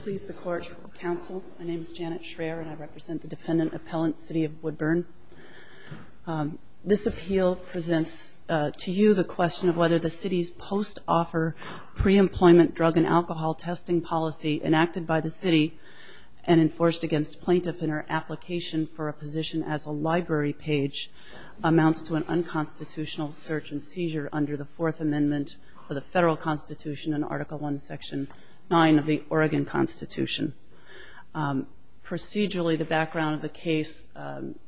Please the Court, Counsel. My name is Janet Schraer and I represent the Defendant Appellant City of Woodburn. This appeal presents to you the question of whether the City's post-offer pre-employment drug and alcohol testing policy enacted by the City and enforced against plaintiff in her application for a position as a library page amounts to an unconstitutional search and seizure under the Fourth Amendment of the Federal Constitution in Article I, Section 9 of the Oregon Constitution. Procedurally, the background of the case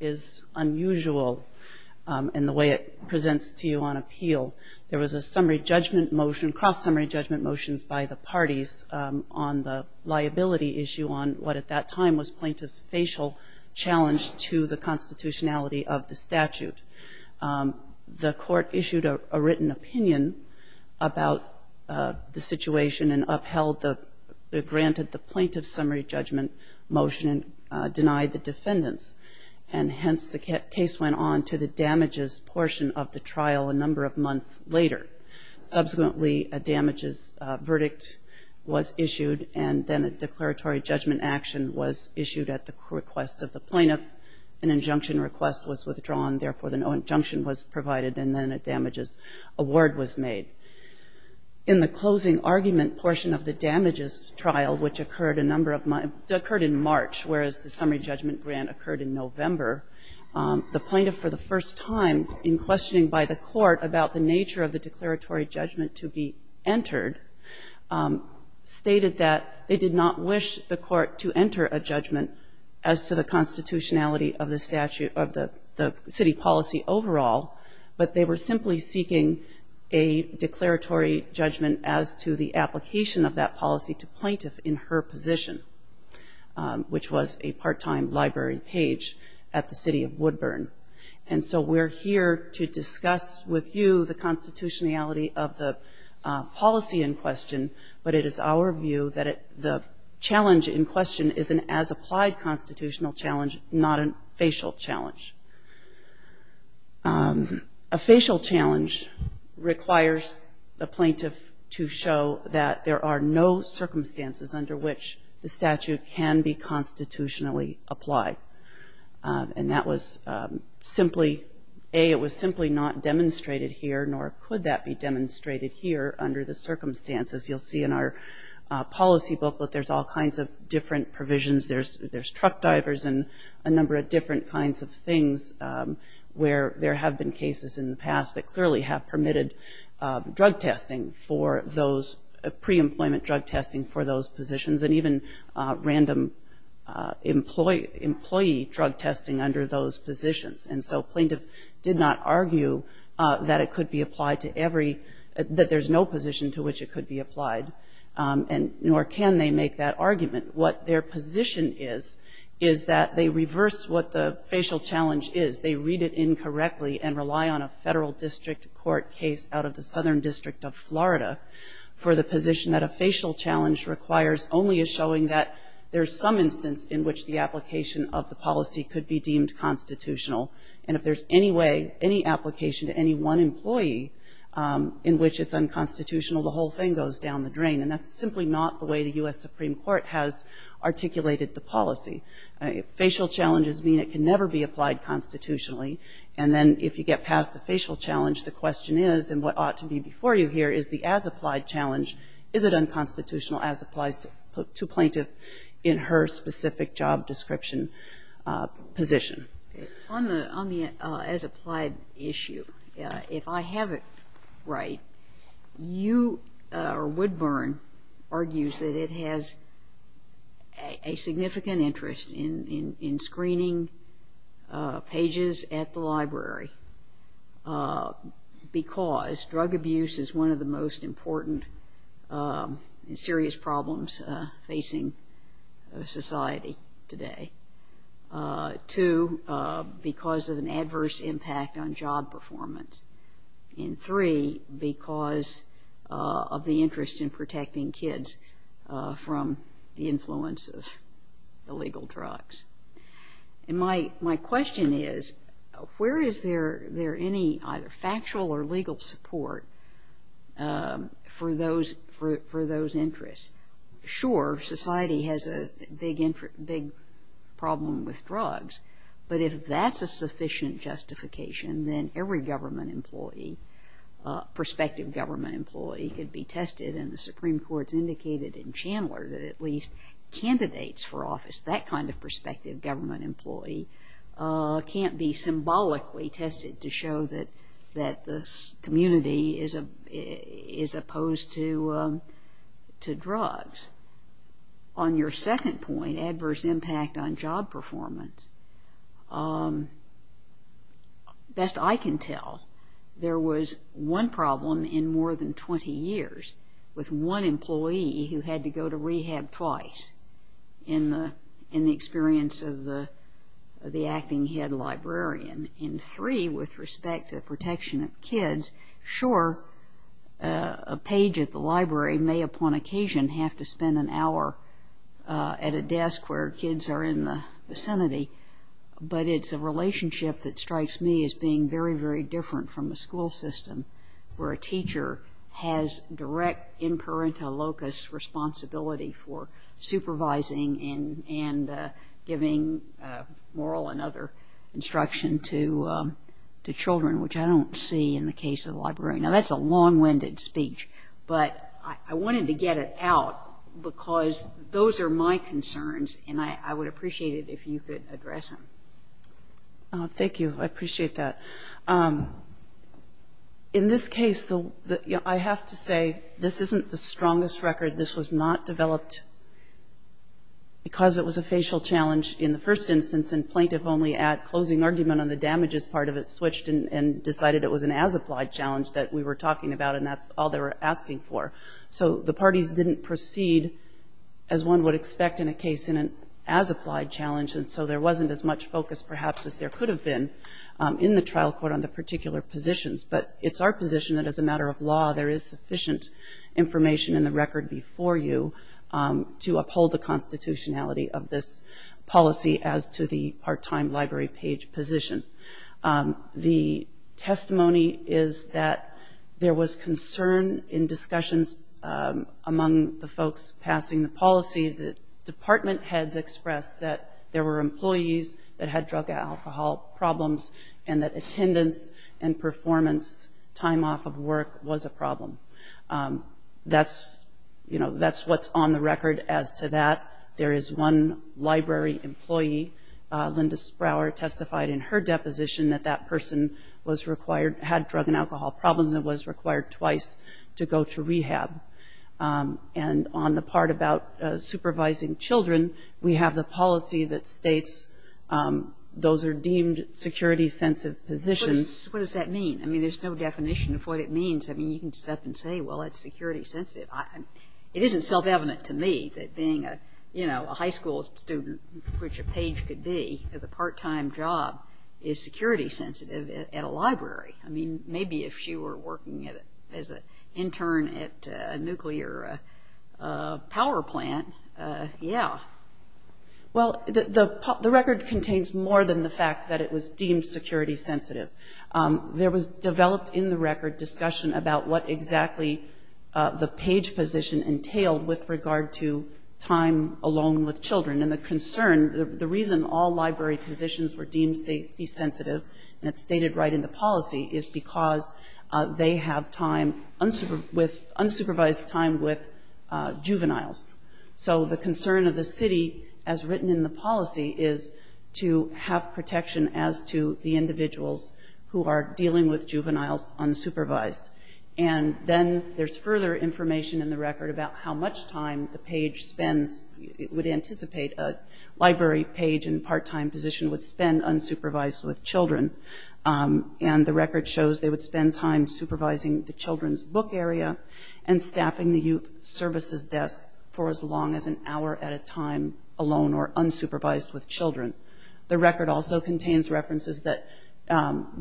is unusual in the way it presents to you on appeal. There was a summary judgment motion, cross-summary judgment motions by the parties on the liability issue on what at that time was plaintiff's facial challenge to the constitutionality of the statute. The Court issued a written opinion about the situation and upheld the granted the plaintiff's summary judgment motion and denied the defendants. And hence, the case went on to the damages portion of the trial a number of months later. Subsequently, a damages verdict was issued and then a declaratory judgment action was issued at the request of the plaintiff. An injunction request was withdrawn. Therefore, an injunction was provided and then a damages award was made. In the closing argument portion of the damages trial, which occurred in March, whereas the summary judgment grant occurred in November, the plaintiff for the first time, in questioning by the Court about the nature of the declaratory judgment to be entered, stated that they did not wish the Court to enter a judgment as to the constitutionality of the statute of the city policy overall, but they were simply seeking a declaratory judgment as to the application of that policy to plaintiff in her position, which was a part-time library page at the City of Woodburn. And so we're here to discuss with you the constitutionality of the policy in question, but it is our view that the challenge in question is an as-applied constitutional challenge, not a facial challenge. A facial challenge requires the plaintiff to show that there are no circumstances under which the statute can be constitutionally applied. And that was simply, A, it was simply not demonstrated here, nor could that be demonstrated here under the circumstances. You'll see in our policy booklet there's all kinds of different provisions. There's truck divers and a number of different kinds of things where there have been cases in the past that clearly have permitted drug testing for those, pre-employment drug testing for those positions, and even random employee drug testing under those positions. And so plaintiff did not argue that it could be applied to every, that there's no position to which it could be applied, and nor can they make that argument. What their position is, is that they reverse what the facial challenge is. They read it incorrectly and rely on a federal district court case out of the Southern District of Florida for the position that a facial challenge requires only as showing that there's some instance in which the application of the policy could be deemed constitutional. And if there's any way, any application to any one employee in which it's unconstitutional, the whole thing goes down the drain. And that's simply not the way the U.S. Supreme Court has articulated the policy. Facial challenges mean it can never be applied constitutionally, and then if you get past the facial challenge, the question is, and what ought to be before you here, is the as-applied challenge, is it unconstitutional as applies to plaintiff in her specific job description position. On the as-applied issue, if I have it right, you, or Woodburn, argues that it has, it has a significant interest in screening pages at the library because drug abuse is one of the most important and serious problems facing society today. Two, because of an adverse impact on job performance. And three, because of the interest in protecting kids from, you know, the influence of illegal drugs. And my question is, where is there any either factual or legal support for those interests? Sure, society has a big problem with drugs, but if that's a sufficient justification, then every government employee, prospective government employee, could be tested. And the Supreme Court has indicated in Chandler that at least candidates for office, that kind of prospective government employee, can't be symbolically tested to show that the community is opposed to drugs. On your second point, adverse impact on job performance, best I can tell, there was one problem in more than 20 years with one employee who had to go to rehab twice in the experience of the acting head librarian. And three, with respect to protection of kids, sure, a page at the library may upon occasion have to spend an hour at a desk where kids are in the vicinity, but it's a relationship that strikes me as being very, very different from a school system where a teacher has direct in parenta locus responsibility for supervising and giving moral and other instruction to children, which I don't see in the case of the library. Now, that's a long-winded speech, but I wanted to get it out because those are my concerns, and I would appreciate it if you could address them. Thank you. I appreciate that. In this case, I have to say, this isn't the strongest record. This was not developed because it was a facial challenge in the first instance, and plaintiff only at closing argument on the damages part of it switched and decided it was an as-applied challenge that we were talking about, and that's all they were asking for. So the parties didn't proceed as one would expect in a case in an as-applied challenge, and so there wasn't as much focus, perhaps, as there could have been in the trial court on the particular positions, but it's our position that as a matter of law, there is sufficient information in the record before you to uphold the constitutionality of this policy as to the part-time library page position. The testimony is that there was concern in discussions among the folks passing the policy that department heads expressed that there were employees that had drug and alcohol problems and that attendance and performance time off of work was a problem. That's what's on the deposition, that that person was required, had drug and alcohol problems and was required twice to go to rehab. And on the part about supervising children, we have the policy that states those are deemed security-sensitive positions. What does that mean? I mean, there's no definition of what it means. I mean, you can step and say, well, it's security-sensitive. It isn't self-evident to me that being a, you know, a high school student, which a page could be, as a part-time job, is security-sensitive at a library. I mean, maybe if she were working as an intern at a nuclear power plant, yeah. Well, the record contains more than the fact that it was deemed security-sensitive. There was developed in the record discussion about what exactly the page position entailed with regard to time alone with children. And the concern, the reason all library positions were deemed safety-sensitive, and it's stated right in the policy, is because they have time, unsupervised time with juveniles. So the concern of the city, as written in the policy, is to have protection as to the individuals who are dealing with juveniles unsupervised. And then there's further information in the record about how much time the page spends, would anticipate a library page in part-time position would spend unsupervised with children. And the record shows they would spend time supervising the children's book area and staffing the youth services desk for as long as an hour at a time alone or unsupervised with children. The record also contains references that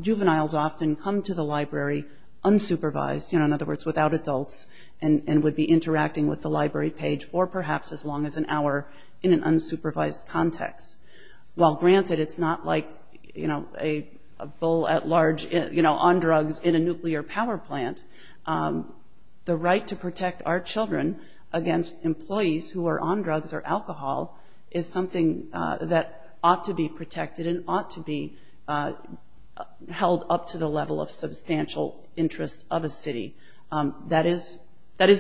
juveniles often come to the library unsupervised, in other words, without adults, and would be interacting with the library page for perhaps as long as an hour in an unsupervised context. Well, granted, it's not like a bull at large on drugs in a nuclear power plant. The right to protect our children against employees who are on drugs or alcohol is something that ought to be protected and ought to be held up to the level of substantial interest of a city. That is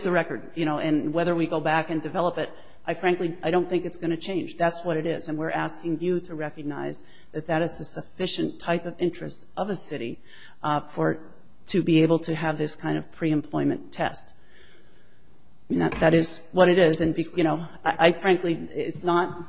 the record. And whether we go back and develop it, I frankly don't think it's going to change. That's what it is, and we're asking you to recognize that that is a sufficient type of interest of a city to be able to have this kind of pre-employment test. That is what it is, and I frankly, it's not,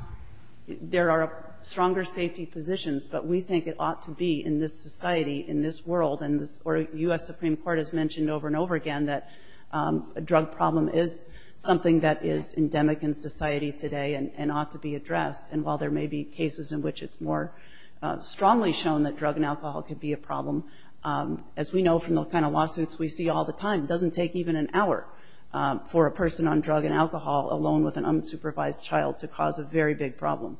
there are stronger safety positions, but we think it ought to be in this society, in this world, and the U.S. Supreme Court has mentioned over and over again that a drug problem is something that is endemic in society today and ought to be addressed. And while there may be cases in which it's more strongly shown that drug and alcohol could be a problem, as we know from the kind of lawsuits we see all the time, it doesn't take even an hour for a person on drug and alcohol, alone with an unsupervised child, to cause a very big problem.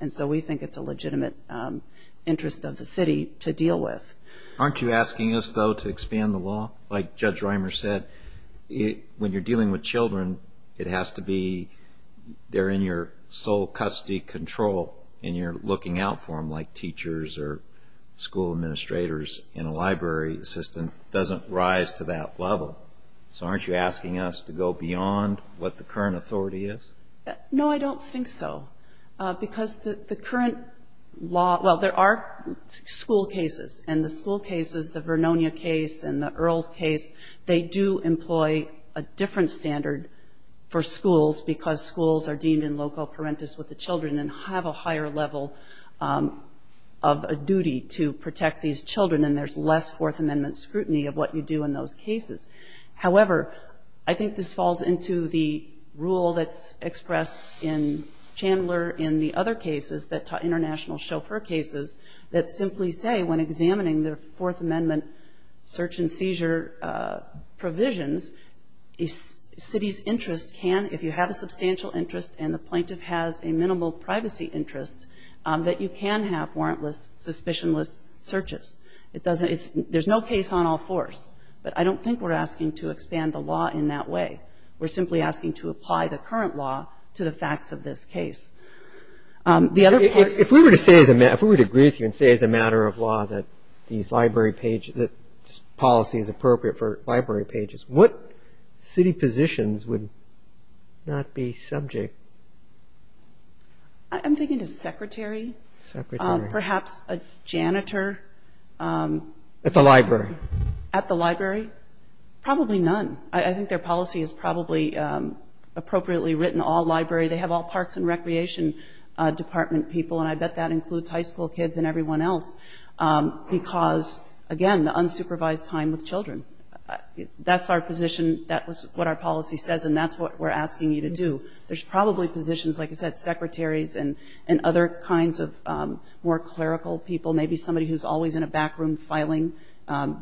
And so we think it's a legitimate interest of the city to deal with. Aren't you asking us, though, to expand the law? Like Judge Reimer said, when you're dealing with children, it has to be, they're in your sole custody control, and you're looking out for them like teachers or school administrators, and a library assistant doesn't rise to that level. So aren't you asking us to go beyond what the current authority is? No, I don't think so. Because the current law, well, there are school cases, and the school cases, the Vernonia case and the Earls case, they do employ a different standard for schools because schools are deemed in loco parentis with the children and have a higher level of a duty to protect these children, and there's less Fourth Amendment scrutiny of what you do in those cases. However, I think this falls into the rule that's expressed in Chandler in the other cases, the international chauffeur cases, that simply say when examining the Fourth Amendment search and seizure provisions, a city's interest can, if you have a substantial interest and the plaintiff has a minimal privacy interest, that you can have warrantless suspicionless searches. It doesn't, it's, there's no case on all fours. But I don't think we're asking to expand the law in that way. We're simply asking to apply the current law to the facts of this case. The other part of the question is... If we were to say, if we were to agree with you and say as a matter of law that these library pages, that this policy is appropriate for library pages, what city positions would not be subject? I'm thinking of secretary. Secretary. Perhaps a janitor. At the library. At the library. Probably none. I think their policy is probably appropriately written, all library, they have all parks and recreation department people, and I bet that includes high school kids and everyone else. Because, again, the unsupervised time with children. That's our position, that's what our policy says and that's what we're asking you to do. There's probably positions, like I said, secretaries and other kinds of more clerical people, maybe somebody who's always in a back room filing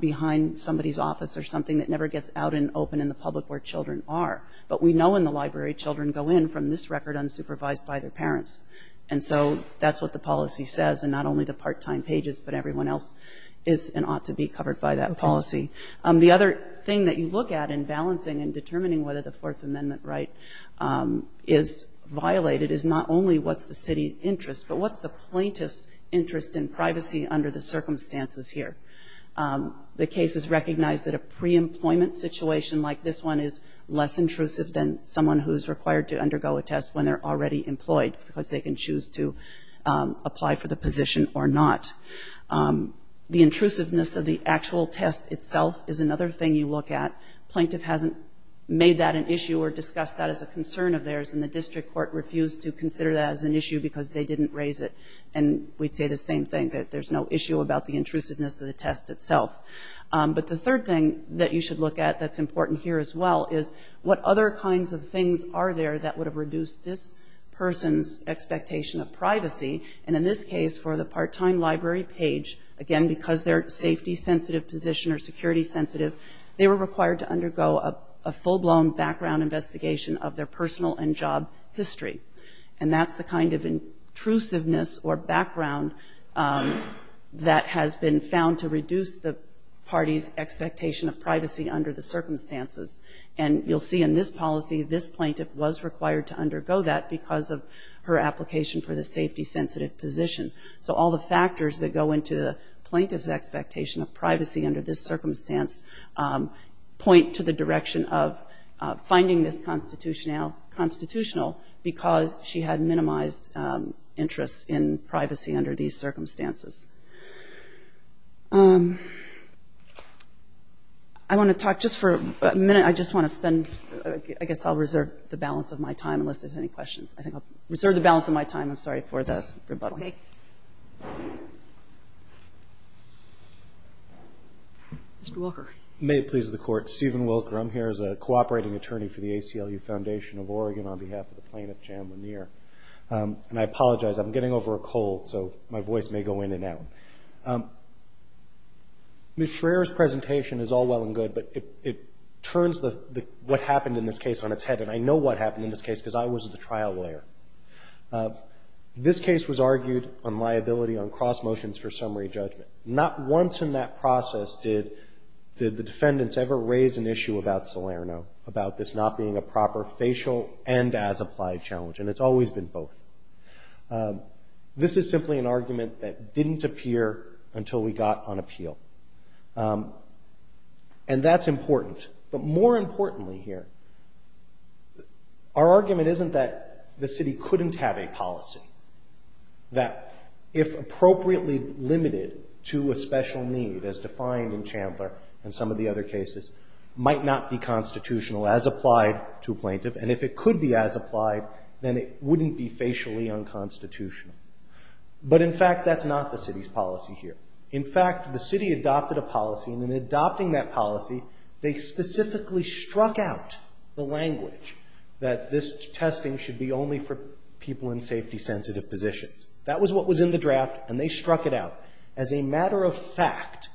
behind somebody's office or something that never gets out and open in the public where children are. But we know in the library children go in from this record unsupervised by their parents. And so that's what the policy says and not only the part-time pages, but everyone else is and ought to be covered by that policy. The other thing that you look at in balancing and determining whether the Fourth Amendment right is violated is not only what's the city's interest, but what's the plaintiff's interest in privacy under the circumstances here. The case is recognized that a pre-employment situation like this one is less intrusive than someone who's required to undergo a test when they're already employed because they can choose to apply for the position or not. The intrusiveness of the actual test itself is another thing you look at. Plaintiff hasn't made that an issue or discussed that as a concern of theirs and the district court refused to consider that as an issue because they didn't raise it. And we'd say the same thing, that there's no issue about the intrusiveness of the test itself. But the third thing that you should look at that's important here as well is what other kinds of things are there that would have reduced this person's expectation of privacy. And in this case, for the part-time library page, again, because they're safety-sensitive position or security-sensitive, they were required to undergo a full-blown background investigation of their personal and job history. And that's the kind of intrusiveness or background that has been found to reduce the party's expectation of privacy under the circumstances. And you'll see in this policy, this plaintiff was required to undergo that because of her application for the safety-sensitive position. So all the factors that go into the plaintiff's expectation of privacy under this circumstance point to the direction of finding this constitutional because she had minimized interest in privacy under these circumstances. I want to talk just for a minute. I just want to spend, I guess I'll reserve the balance of my time unless there's any questions. I think I'll reserve the balance of my time, I'm sorry, for the rebuttal. Okay. Mr. Wilker. May it please the Court. Stephen Wilker. I'm here as a cooperating attorney for the ACLU Foundation of Oregon on behalf of the plaintiff, Jan Lanier. And I apologize, I'm getting over cold, so my voice may go in and out. Ms. Schraer's presentation is all well and good, but it turns what happened in this case on its head. And I know what happened in this case because I was the trial lawyer. This case was argued on liability on cross motions for summary judgment. Not once in that process did the defendants ever raise an issue about Salerno, about this not being a proper facial and as-applied challenge. And it's always been both. This is simply an argument that didn't appear until we got on appeal. And that's important. But more importantly here, our argument isn't that the city couldn't have a policy. That if appropriately limited to a special need, as defined in Chandler and some of the other cases, might not be constitutional as applied to a plaintiff. And if it could be as applied, then it wouldn't be facially unconstitutional. But in fact, that's not the city's policy here. In fact, the city adopted a policy, and in adopting that policy, they specifically struck out the language that this testing should be only for people in safety-sensitive positions. That was what was in the draft, and they struck it out. As a matter of fact,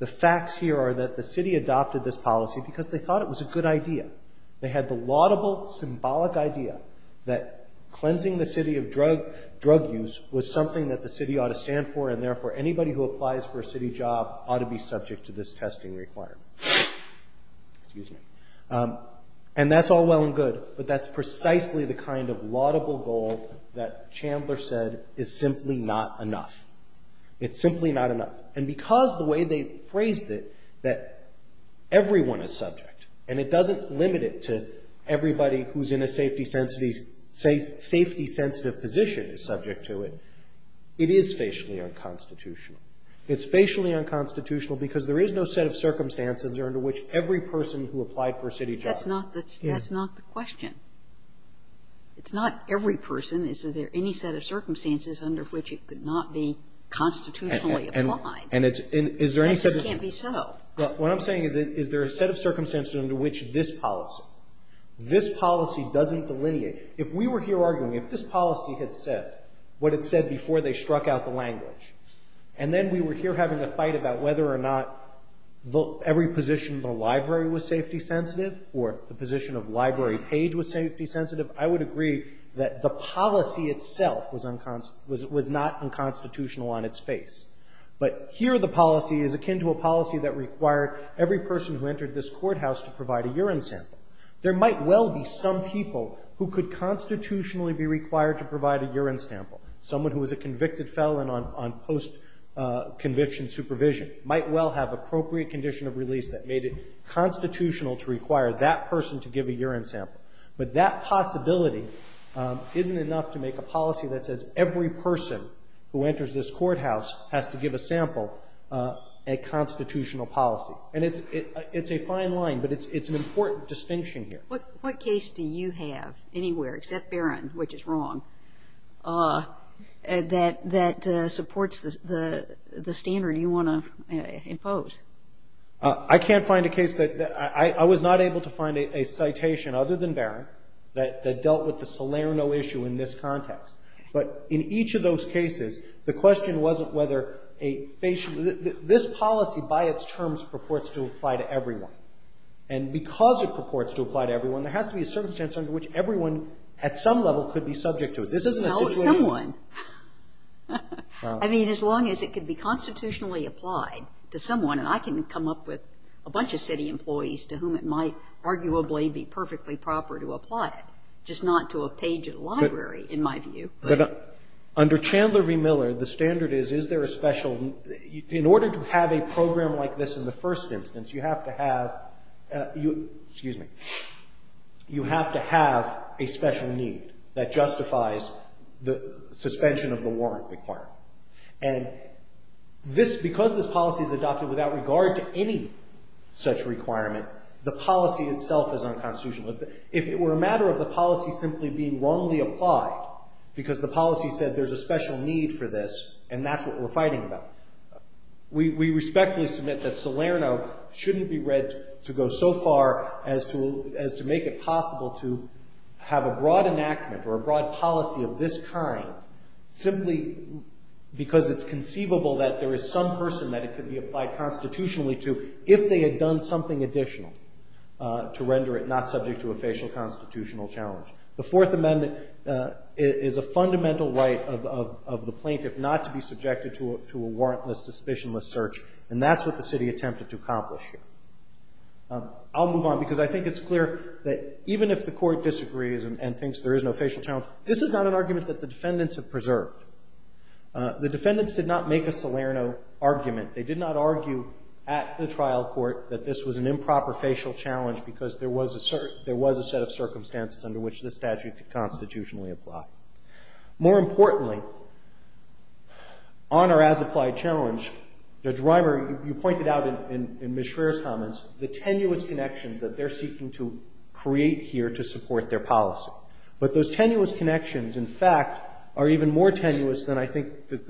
the facts here are that the city adopted this policy because they thought it was a good idea. They had the laudable, symbolic idea that cleansing the city of drug use was something that the city ought to stand for, and therefore anybody who applies for a city job ought to be subject to this testing requirement. And that's all well and good, but that's precisely the kind of laudable goal that Chandler said is simply not enough. It's simply not enough. And because the way they phrased it, that everyone is subject, and it doesn't limit it to everybody who's in a safety-sensitive position is subject to it, it is facially unconstitutional. It's facially unconstitutional because there is no set of circumstances under which every person who applied for a city job. That's not the question. It's not every person. Is there any set of circumstances under which it could not be constitutionally applied? And it's in – is there any set of – That just can't be so. What I'm saying is, is there a set of circumstances under which this policy, this policy doesn't delineate. If we were here arguing, if this policy had said what it said before they struck out the language, and then we were here having a fight about whether or not every position in the library was safety-sensitive or the position of Library Page was safety-sensitive, I would agree that the policy itself was not unconstitutional on its face. But here the policy is akin to a policy that required every person who entered this courthouse to provide a urine sample. There might well be some people who could constitutionally be required to provide a urine sample. Someone who was a convicted felon on post-conviction supervision might well have appropriate condition of release that made it constitutional to require that person to give a urine sample. But that possibility isn't enough to make a policy that says every person who enters this courthouse has to give a sample a constitutional policy. And it's a fine line, but it's an important distinction here. What case do you have anywhere, except Barron, which is wrong, that supports the standard you want to impose? I can't find a case that – I was not able to find a citation other than Barron that the question wasn't whether a – this policy by its terms purports to apply to everyone. And because it purports to apply to everyone, there has to be a circumstance under which everyone at some level could be subject to it. This isn't a situation No, someone. I mean, as long as it could be constitutionally applied to someone, and I can come up with a bunch of city employees to whom it might arguably be perfectly proper to apply it, just not to a page at a library, in my view. But under Chandler v. Miller, the standard is, is there a special – in order to have a program like this in the first instance, you have to have – excuse me – you have to have a special need that justifies the suspension of the warrant requirement. And this – because this policy is adopted without regard to any such requirement, the policy itself is unconstitutional. If it were a matter of the policy simply being wrongly applied because the policy said there's a special need for this and that's what we're fighting about, we respectfully submit that Salerno shouldn't be read to go so far as to make it possible to have a broad enactment or a broad policy of this kind simply because it's conceivable that there is some person that it could be applied constitutionally to if they had done something additional to render it not subject to a facial constitutional challenge. The Fourth Amendment is a fundamental right of the plaintiff not to be subjected to a warrantless, suspicionless search, and that's what the city attempted to accomplish here. I'll move on because I think it's clear that even if the Court disagrees and thinks there is no facial challenge, this is not an argument that the defendants have preserved. The defendants did not make a Salerno argument. They did not argue at the trial court that this was an improper facial challenge because there was a set of circumstances under which this statute could constitutionally apply. More importantly, on our as-applied challenge, Judge Rimer, you pointed out in Ms. Schraer's comments the tenuous connections that they're seeking to create here to support their the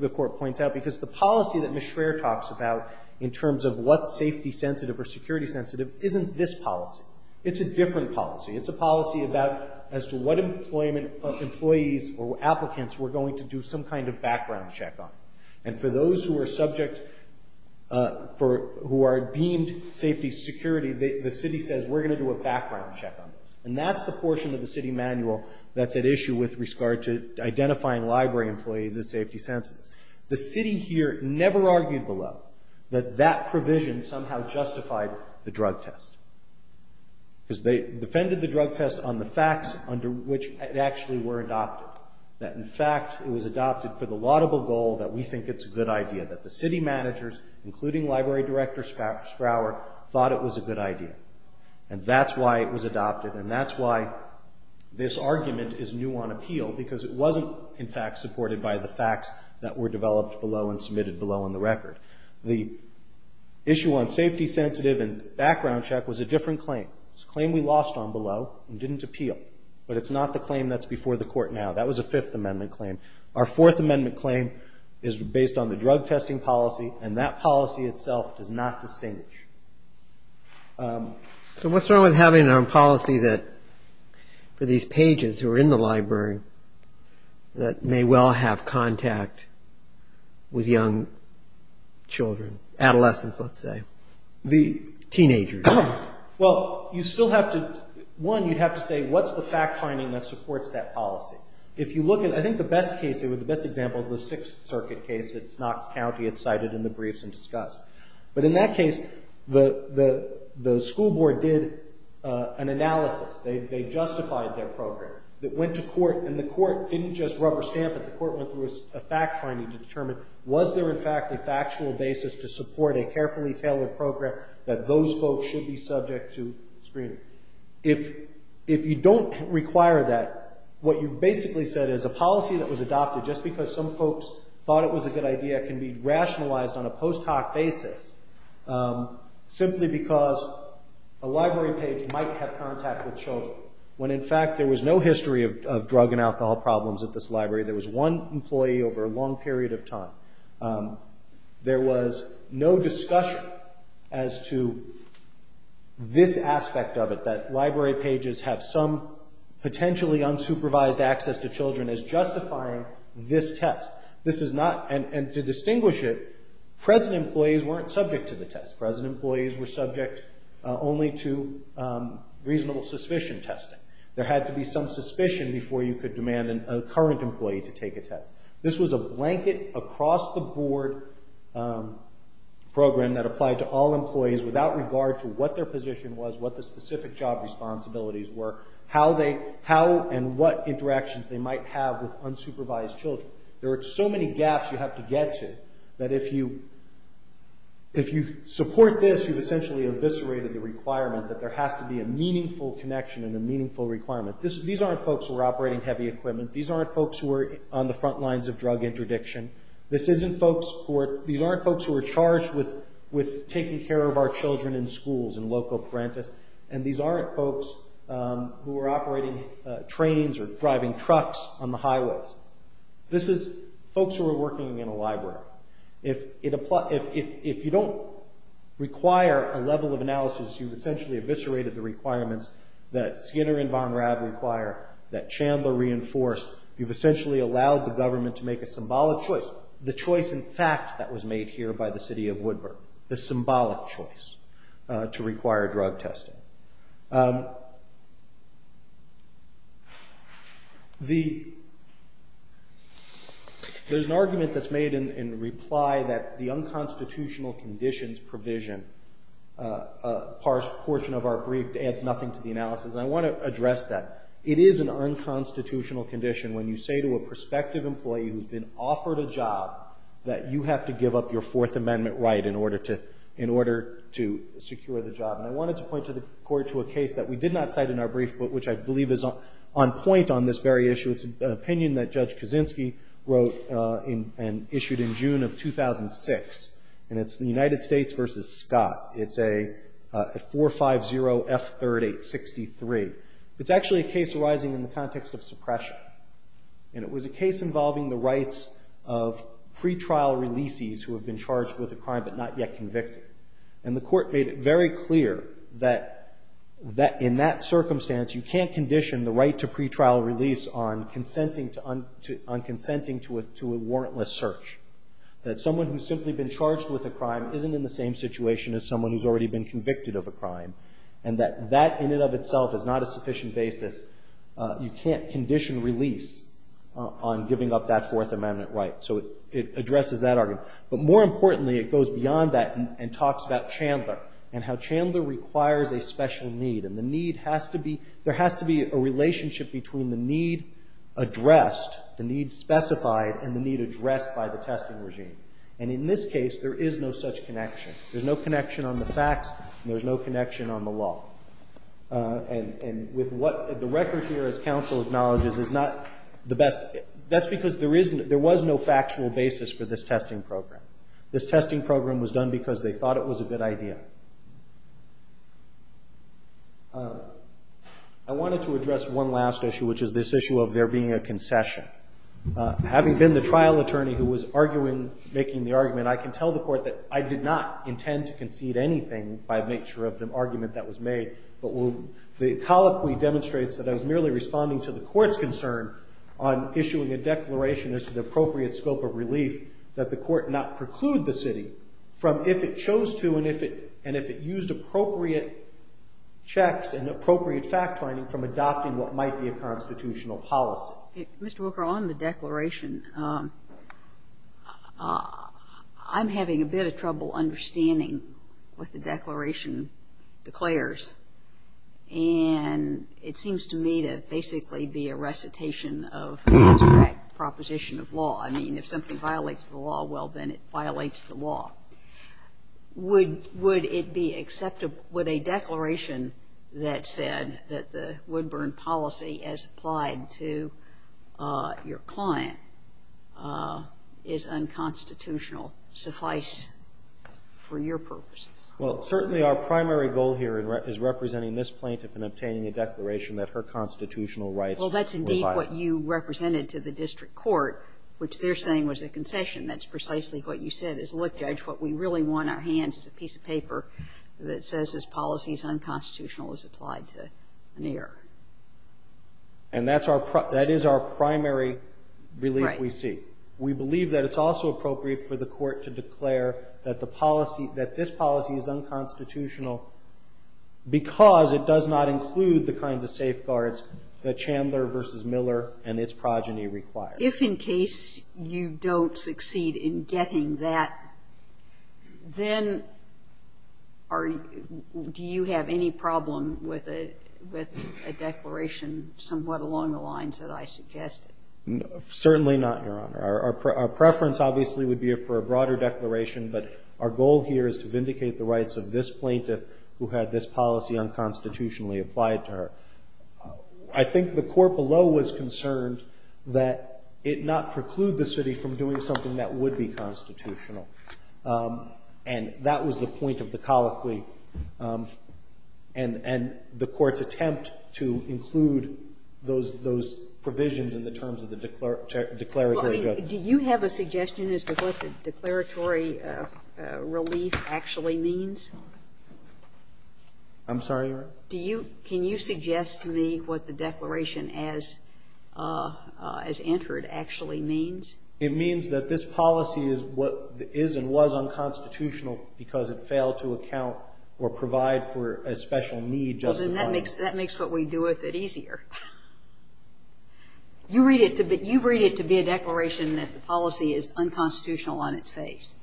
Court points out because the policy that Ms. Schraer talks about in terms of what's safety-sensitive or security-sensitive isn't this policy. It's a different policy. It's a policy about as to what employees or applicants we're going to do some kind of background check on. And for those who are deemed safety-security, the city says we're going to do a background check on those. And that's the portion of the city manual that's at issue with regard to identifying library employees as safety-sensitive. The city here never argued below that that provision somehow justified the drug test because they defended the drug test on the facts under which it actually were adopted. That, in fact, it was adopted for the laudable goal that we think it's a good idea, that the city managers, including library director Sprower, thought it was a good idea. And that's why it was adopted, and that's why this argument is new on appeal, because it wasn't, in fact, supported by the facts that were developed below and submitted below in the record. The issue on safety-sensitive and background check was a different claim. It was a claim we lost on below and didn't appeal. But it's not the claim that's before the Court now. That was a Fifth Amendment claim. Our Fourth Amendment claim is based on the drug testing policy, and that policy itself does not distinguish. So what's wrong with having a policy for these pages who are in the library that may well have contact with young children, adolescents, let's say, teenagers? Well, one, you'd have to say, what's the fact-finding that supports that policy? I think the best example is the Sixth Circuit case. It's Knox County. It's cited in the briefs and discussed. But in that case, the school board did an analysis. They justified their program. It went to court, and the court didn't just rubber stamp it. The court went through a fact-finding to determine, was there, in fact, a factual basis to support a carefully tailored program that those folks should be subject to screening? If you don't require that, what you've basically said is a policy that was adopted just because some folks thought it was a good idea can be rationalized on a post hoc basis simply because a library page might have contact with children when, in fact, there was no history of drug and alcohol problems at this library. There was one employee over a long period of time. There was no discussion as to this aspect of it, that library pages have some This is not, and to distinguish it, present employees weren't subject to the test. Present employees were subject only to reasonable suspicion testing. There had to be some suspicion before you could demand a current employee to take a test. This was a blanket, across-the-board program that applied to all employees without regard to what their position was, what the specific job responsibilities were, how and what interactions they might have with unsupervised children. There were so many gaps you have to get to that if you support this, you've essentially eviscerated the requirement that there has to be a meaningful connection and a meaningful requirement. These aren't folks who are operating heavy equipment. These aren't folks who are on the front lines of drug interdiction. These aren't folks who are charged with taking care of our children in schools and local These aren't folks who are operating trains or driving trucks on the highways. This is folks who are working in a library. If you don't require a level of analysis, you've essentially eviscerated the requirements that Skinner and Von Raab require, that Chandler reinforced. You've essentially allowed the government to make a symbolic choice, the choice in fact that was made here by the city of Woodburn, the symbolic choice to require drug testing. There's an argument that's made in reply that the unconstitutional conditions provision portion of our brief adds nothing to the analysis. I want to address that. It is an unconstitutional condition when you say to a prospective employee who's been trying to give up your Fourth Amendment right in order to secure the job. And I wanted to point to the court to a case that we did not cite in our brief, but which I believe is on point on this very issue. It's an opinion that Judge Kaczynski wrote and issued in June of 2006. And it's the United States versus Scott. It's a 450F3863. It's actually a case arising in the context of suppression. And it was a case involving the rights of pretrial releasees who have been charged with a crime but not yet convicted. And the court made it very clear that in that circumstance you can't condition the right to pretrial release on consenting to a warrantless search. That someone who's simply been charged with a crime isn't in the same situation as someone who's already been convicted of a crime. And that that in and of itself is not a sufficient basis. You can't condition release on giving up that Fourth Amendment right. So it addresses that argument. But more importantly, it goes beyond that and talks about Chandler and how Chandler requires a special need. And the need has to be, there has to be a relationship between the need addressed, the need specified, and the need addressed by the testing regime. And in this case, there is no such connection. There's no connection on the facts and there's no connection on the law. And with what the record here, as counsel acknowledges, is not the best. That's because there was no factual basis for this testing program. This testing program was done because they thought it was a good idea. I wanted to address one last issue, which is this issue of there being a concession. Having been the trial attorney who was arguing, making the argument, I can tell the court that I did not intend to concede anything by nature of the argument that was made. But the colloquy demonstrates that I was merely responding to the court's concern on issuing a declaration as to the appropriate scope of relief that the court not preclude the city from if it chose to and if it used appropriate checks and appropriate fact-finding from adopting what might be a constitutional policy. Mr. Wilker, on the declaration, I'm having a bit of trouble understanding what the declaration declares. And it seems to me to basically be a recitation of a contract proposition of law. I mean, if something violates the law, well, then it violates the law. Would it be acceptable, would a declaration that said that the Woodburn policy, as applied to your client, is unconstitutional suffice for your purposes? Well, certainly our primary goal here is representing this plaintiff in obtaining a declaration that her constitutional rights were violated. Well, that's indeed what you represented to the district court, which they're saying was a concession. That's precisely what you said is, look, Judge, what we really want in our hands is a piece of paper that says this policy is unconstitutional, is applied to an error. And that is our primary relief we seek. Right. We believe that it's also appropriate for the court to declare that this policy is unconstitutional because it does not include the kinds of safeguards that Chandler v. Miller and its progeny require. If in case you don't succeed in getting that, then do you have any problem with a declaration somewhat along the lines that I suggested? Certainly not, Your Honor. Our preference, obviously, would be for a broader declaration. But our goal here is to vindicate the rights of this plaintiff who had this policy unconstitutionally applied to her. I think the court below was concerned that it not preclude the city from doing something that would be constitutional. And that was the point of the colloquy. And the court's attempt to include those provisions in the terms of the declaratory relief. Well, I mean, do you have a suggestion as to what the declaratory relief actually means? I'm sorry, Your Honor? Can you suggest to me what the declaration as entered actually means? It means that this policy is what is and was unconstitutional because it failed to account or provide for a special need justifying it. Well, then that makes what we do with it easier. You read it to be a declaration that the policy is unconstitutional on its face.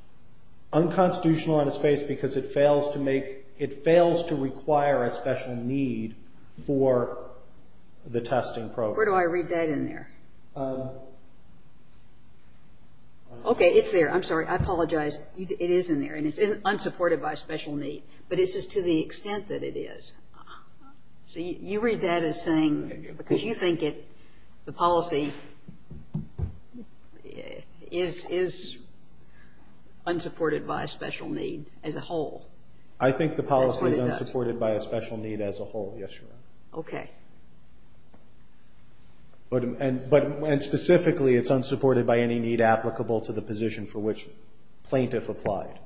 Unconstitutional on its face because it fails to make, it fails to require a special need for the testing program. Where do I read that in there? Okay. It's there. I'm sorry. I apologize. It is in there. And it's unsupported by a special need. But it's just to the extent that it is. So you read that as saying, because you think it, the policy is unsupported by a special need as a whole. That's what it does. I think the policy is unsupported by a special need as a whole, yes, Your Honor. Okay. And specifically, it's unsupported by any need applicable to the position for which plaintiff applied.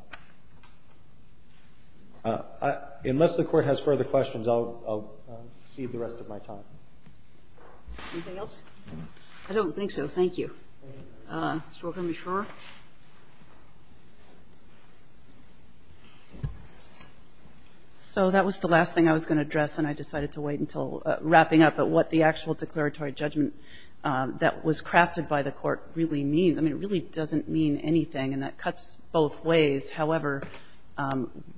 Unless the Court has further questions, I'll cede the rest of my time. Anything else? I don't think so. Thank you. Ms. Stork, are you sure? So that was the last thing I was going to address. And I decided to wait until wrapping up at what the actual declaratory judgment that was crafted by the Court really means. I mean, it really doesn't mean anything. And that cuts both ways. However,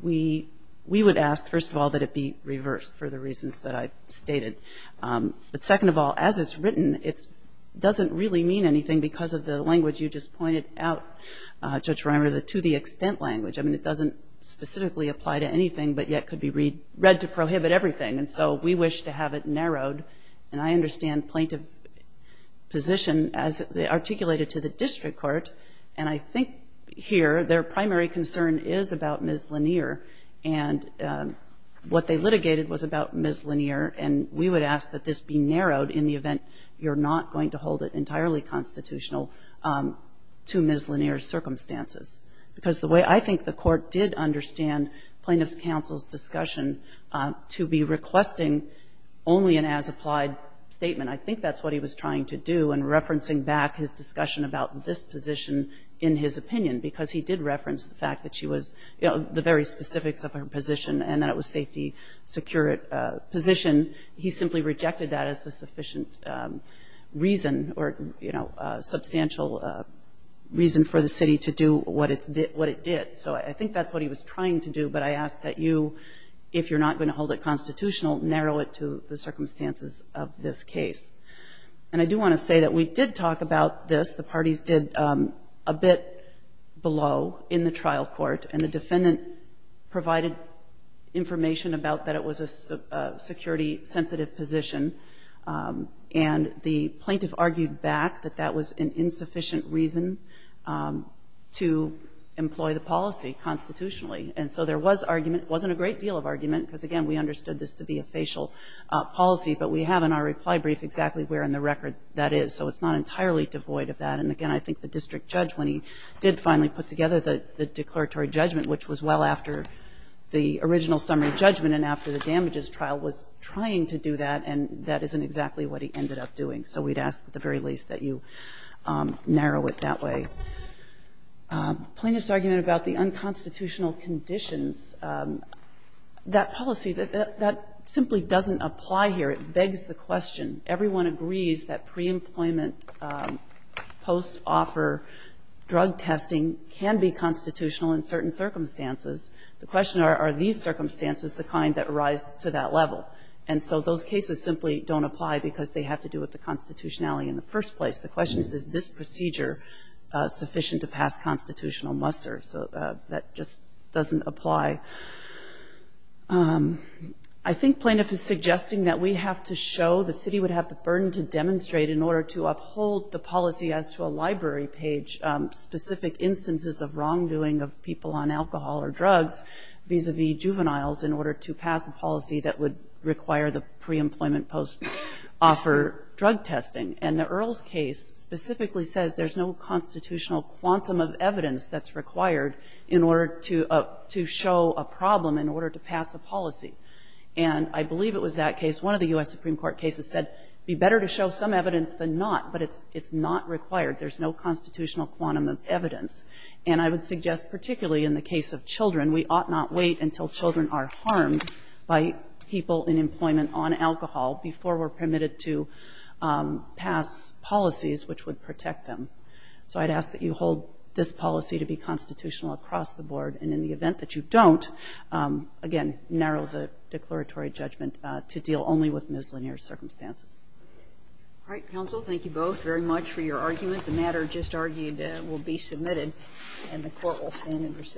we would ask, first of all, that it be reversed for the reasons that I stated. But second of all, as it's written, it doesn't really mean anything because of the language you just pointed out, Judge Reimer, the to-the-extent language. I mean, it doesn't specifically apply to anything, but yet could be read to prohibit everything. And so we wish to have it narrowed. And I understand plaintiff position as articulated to the district court. And I think here their primary concern is about Ms. Lanier. And what they litigated was about Ms. Lanier. And we would ask that this be narrowed in the event you're not going to hold it entirely constitutional to Ms. Lanier's circumstances. Because the way I think the Court did understand plaintiff's counsel's discussion to be requesting only an as-applied statement, I think that's what he was trying to do in referencing back his discussion about this position in his opinion. Because he did reference the fact that she was, you know, the very specifics of her position and that it was safety, secure position. He simply rejected that as a sufficient reason or, you know, substantial reason for the city to do what it did. So I think that's what he was trying to do. But I ask that you, if you're not going to hold it constitutional, narrow it to the circumstances of this case. And I do want to say that we did talk about this. The parties did a bit below in the trial court. And the defendant provided information about that it was a security-sensitive position. And the plaintiff argued back that that was an insufficient reason to employ the policy constitutionally. And so there was argument. It wasn't a great deal of argument because, again, we understood this to be a facial policy. But we have in our reply brief exactly where in the record that is. So it's not entirely devoid of that. And, again, I think the district judge, when he did finally put together the declaratory judgment, which was well after the original summary judgment and after the damages trial, was trying to do that. And that isn't exactly what he ended up doing. So we'd ask at the very least that you narrow it that way. Plaintiff's argument about the unconstitutional conditions, that policy, that simply doesn't apply here. It begs the question. Everyone agrees that pre-employment, post-offer drug testing can be constitutional in certain circumstances. The question are, are these circumstances the kind that rise to that level? And so those cases simply don't apply because they have to do with the constitutionality in the first place. The question is, is this procedure sufficient to pass constitutional muster? So that just doesn't apply. I think plaintiff is suggesting that we have to show, the city would have the burden to demonstrate in order to uphold the policy as to a library page, specific instances of wrongdoing of people on alcohol or drugs, vis-a-vis juveniles, in order to pass a policy that would require the pre-employment, post-offer drug testing. And the Earls case specifically says there's no constitutional quantum of evidence that's required in order to show a problem in order to pass a policy. And I believe it was that case, one of the U.S. Supreme Court cases said, be better to show some evidence than not, but it's not required. There's no constitutional quantum of evidence. And I would suggest particularly in the case of children, we ought not wait until children are harmed by people in employment on alcohol before we're permitted to pass policies which would protect them. So I'd ask that you hold this policy to be constitutional across the board, and in the event that you don't, again, narrow the declaratory judgment to deal only with mislinear circumstances. All right, counsel, thank you both very much for your argument. The matter just argued will be submitted, and the court will stand in recess.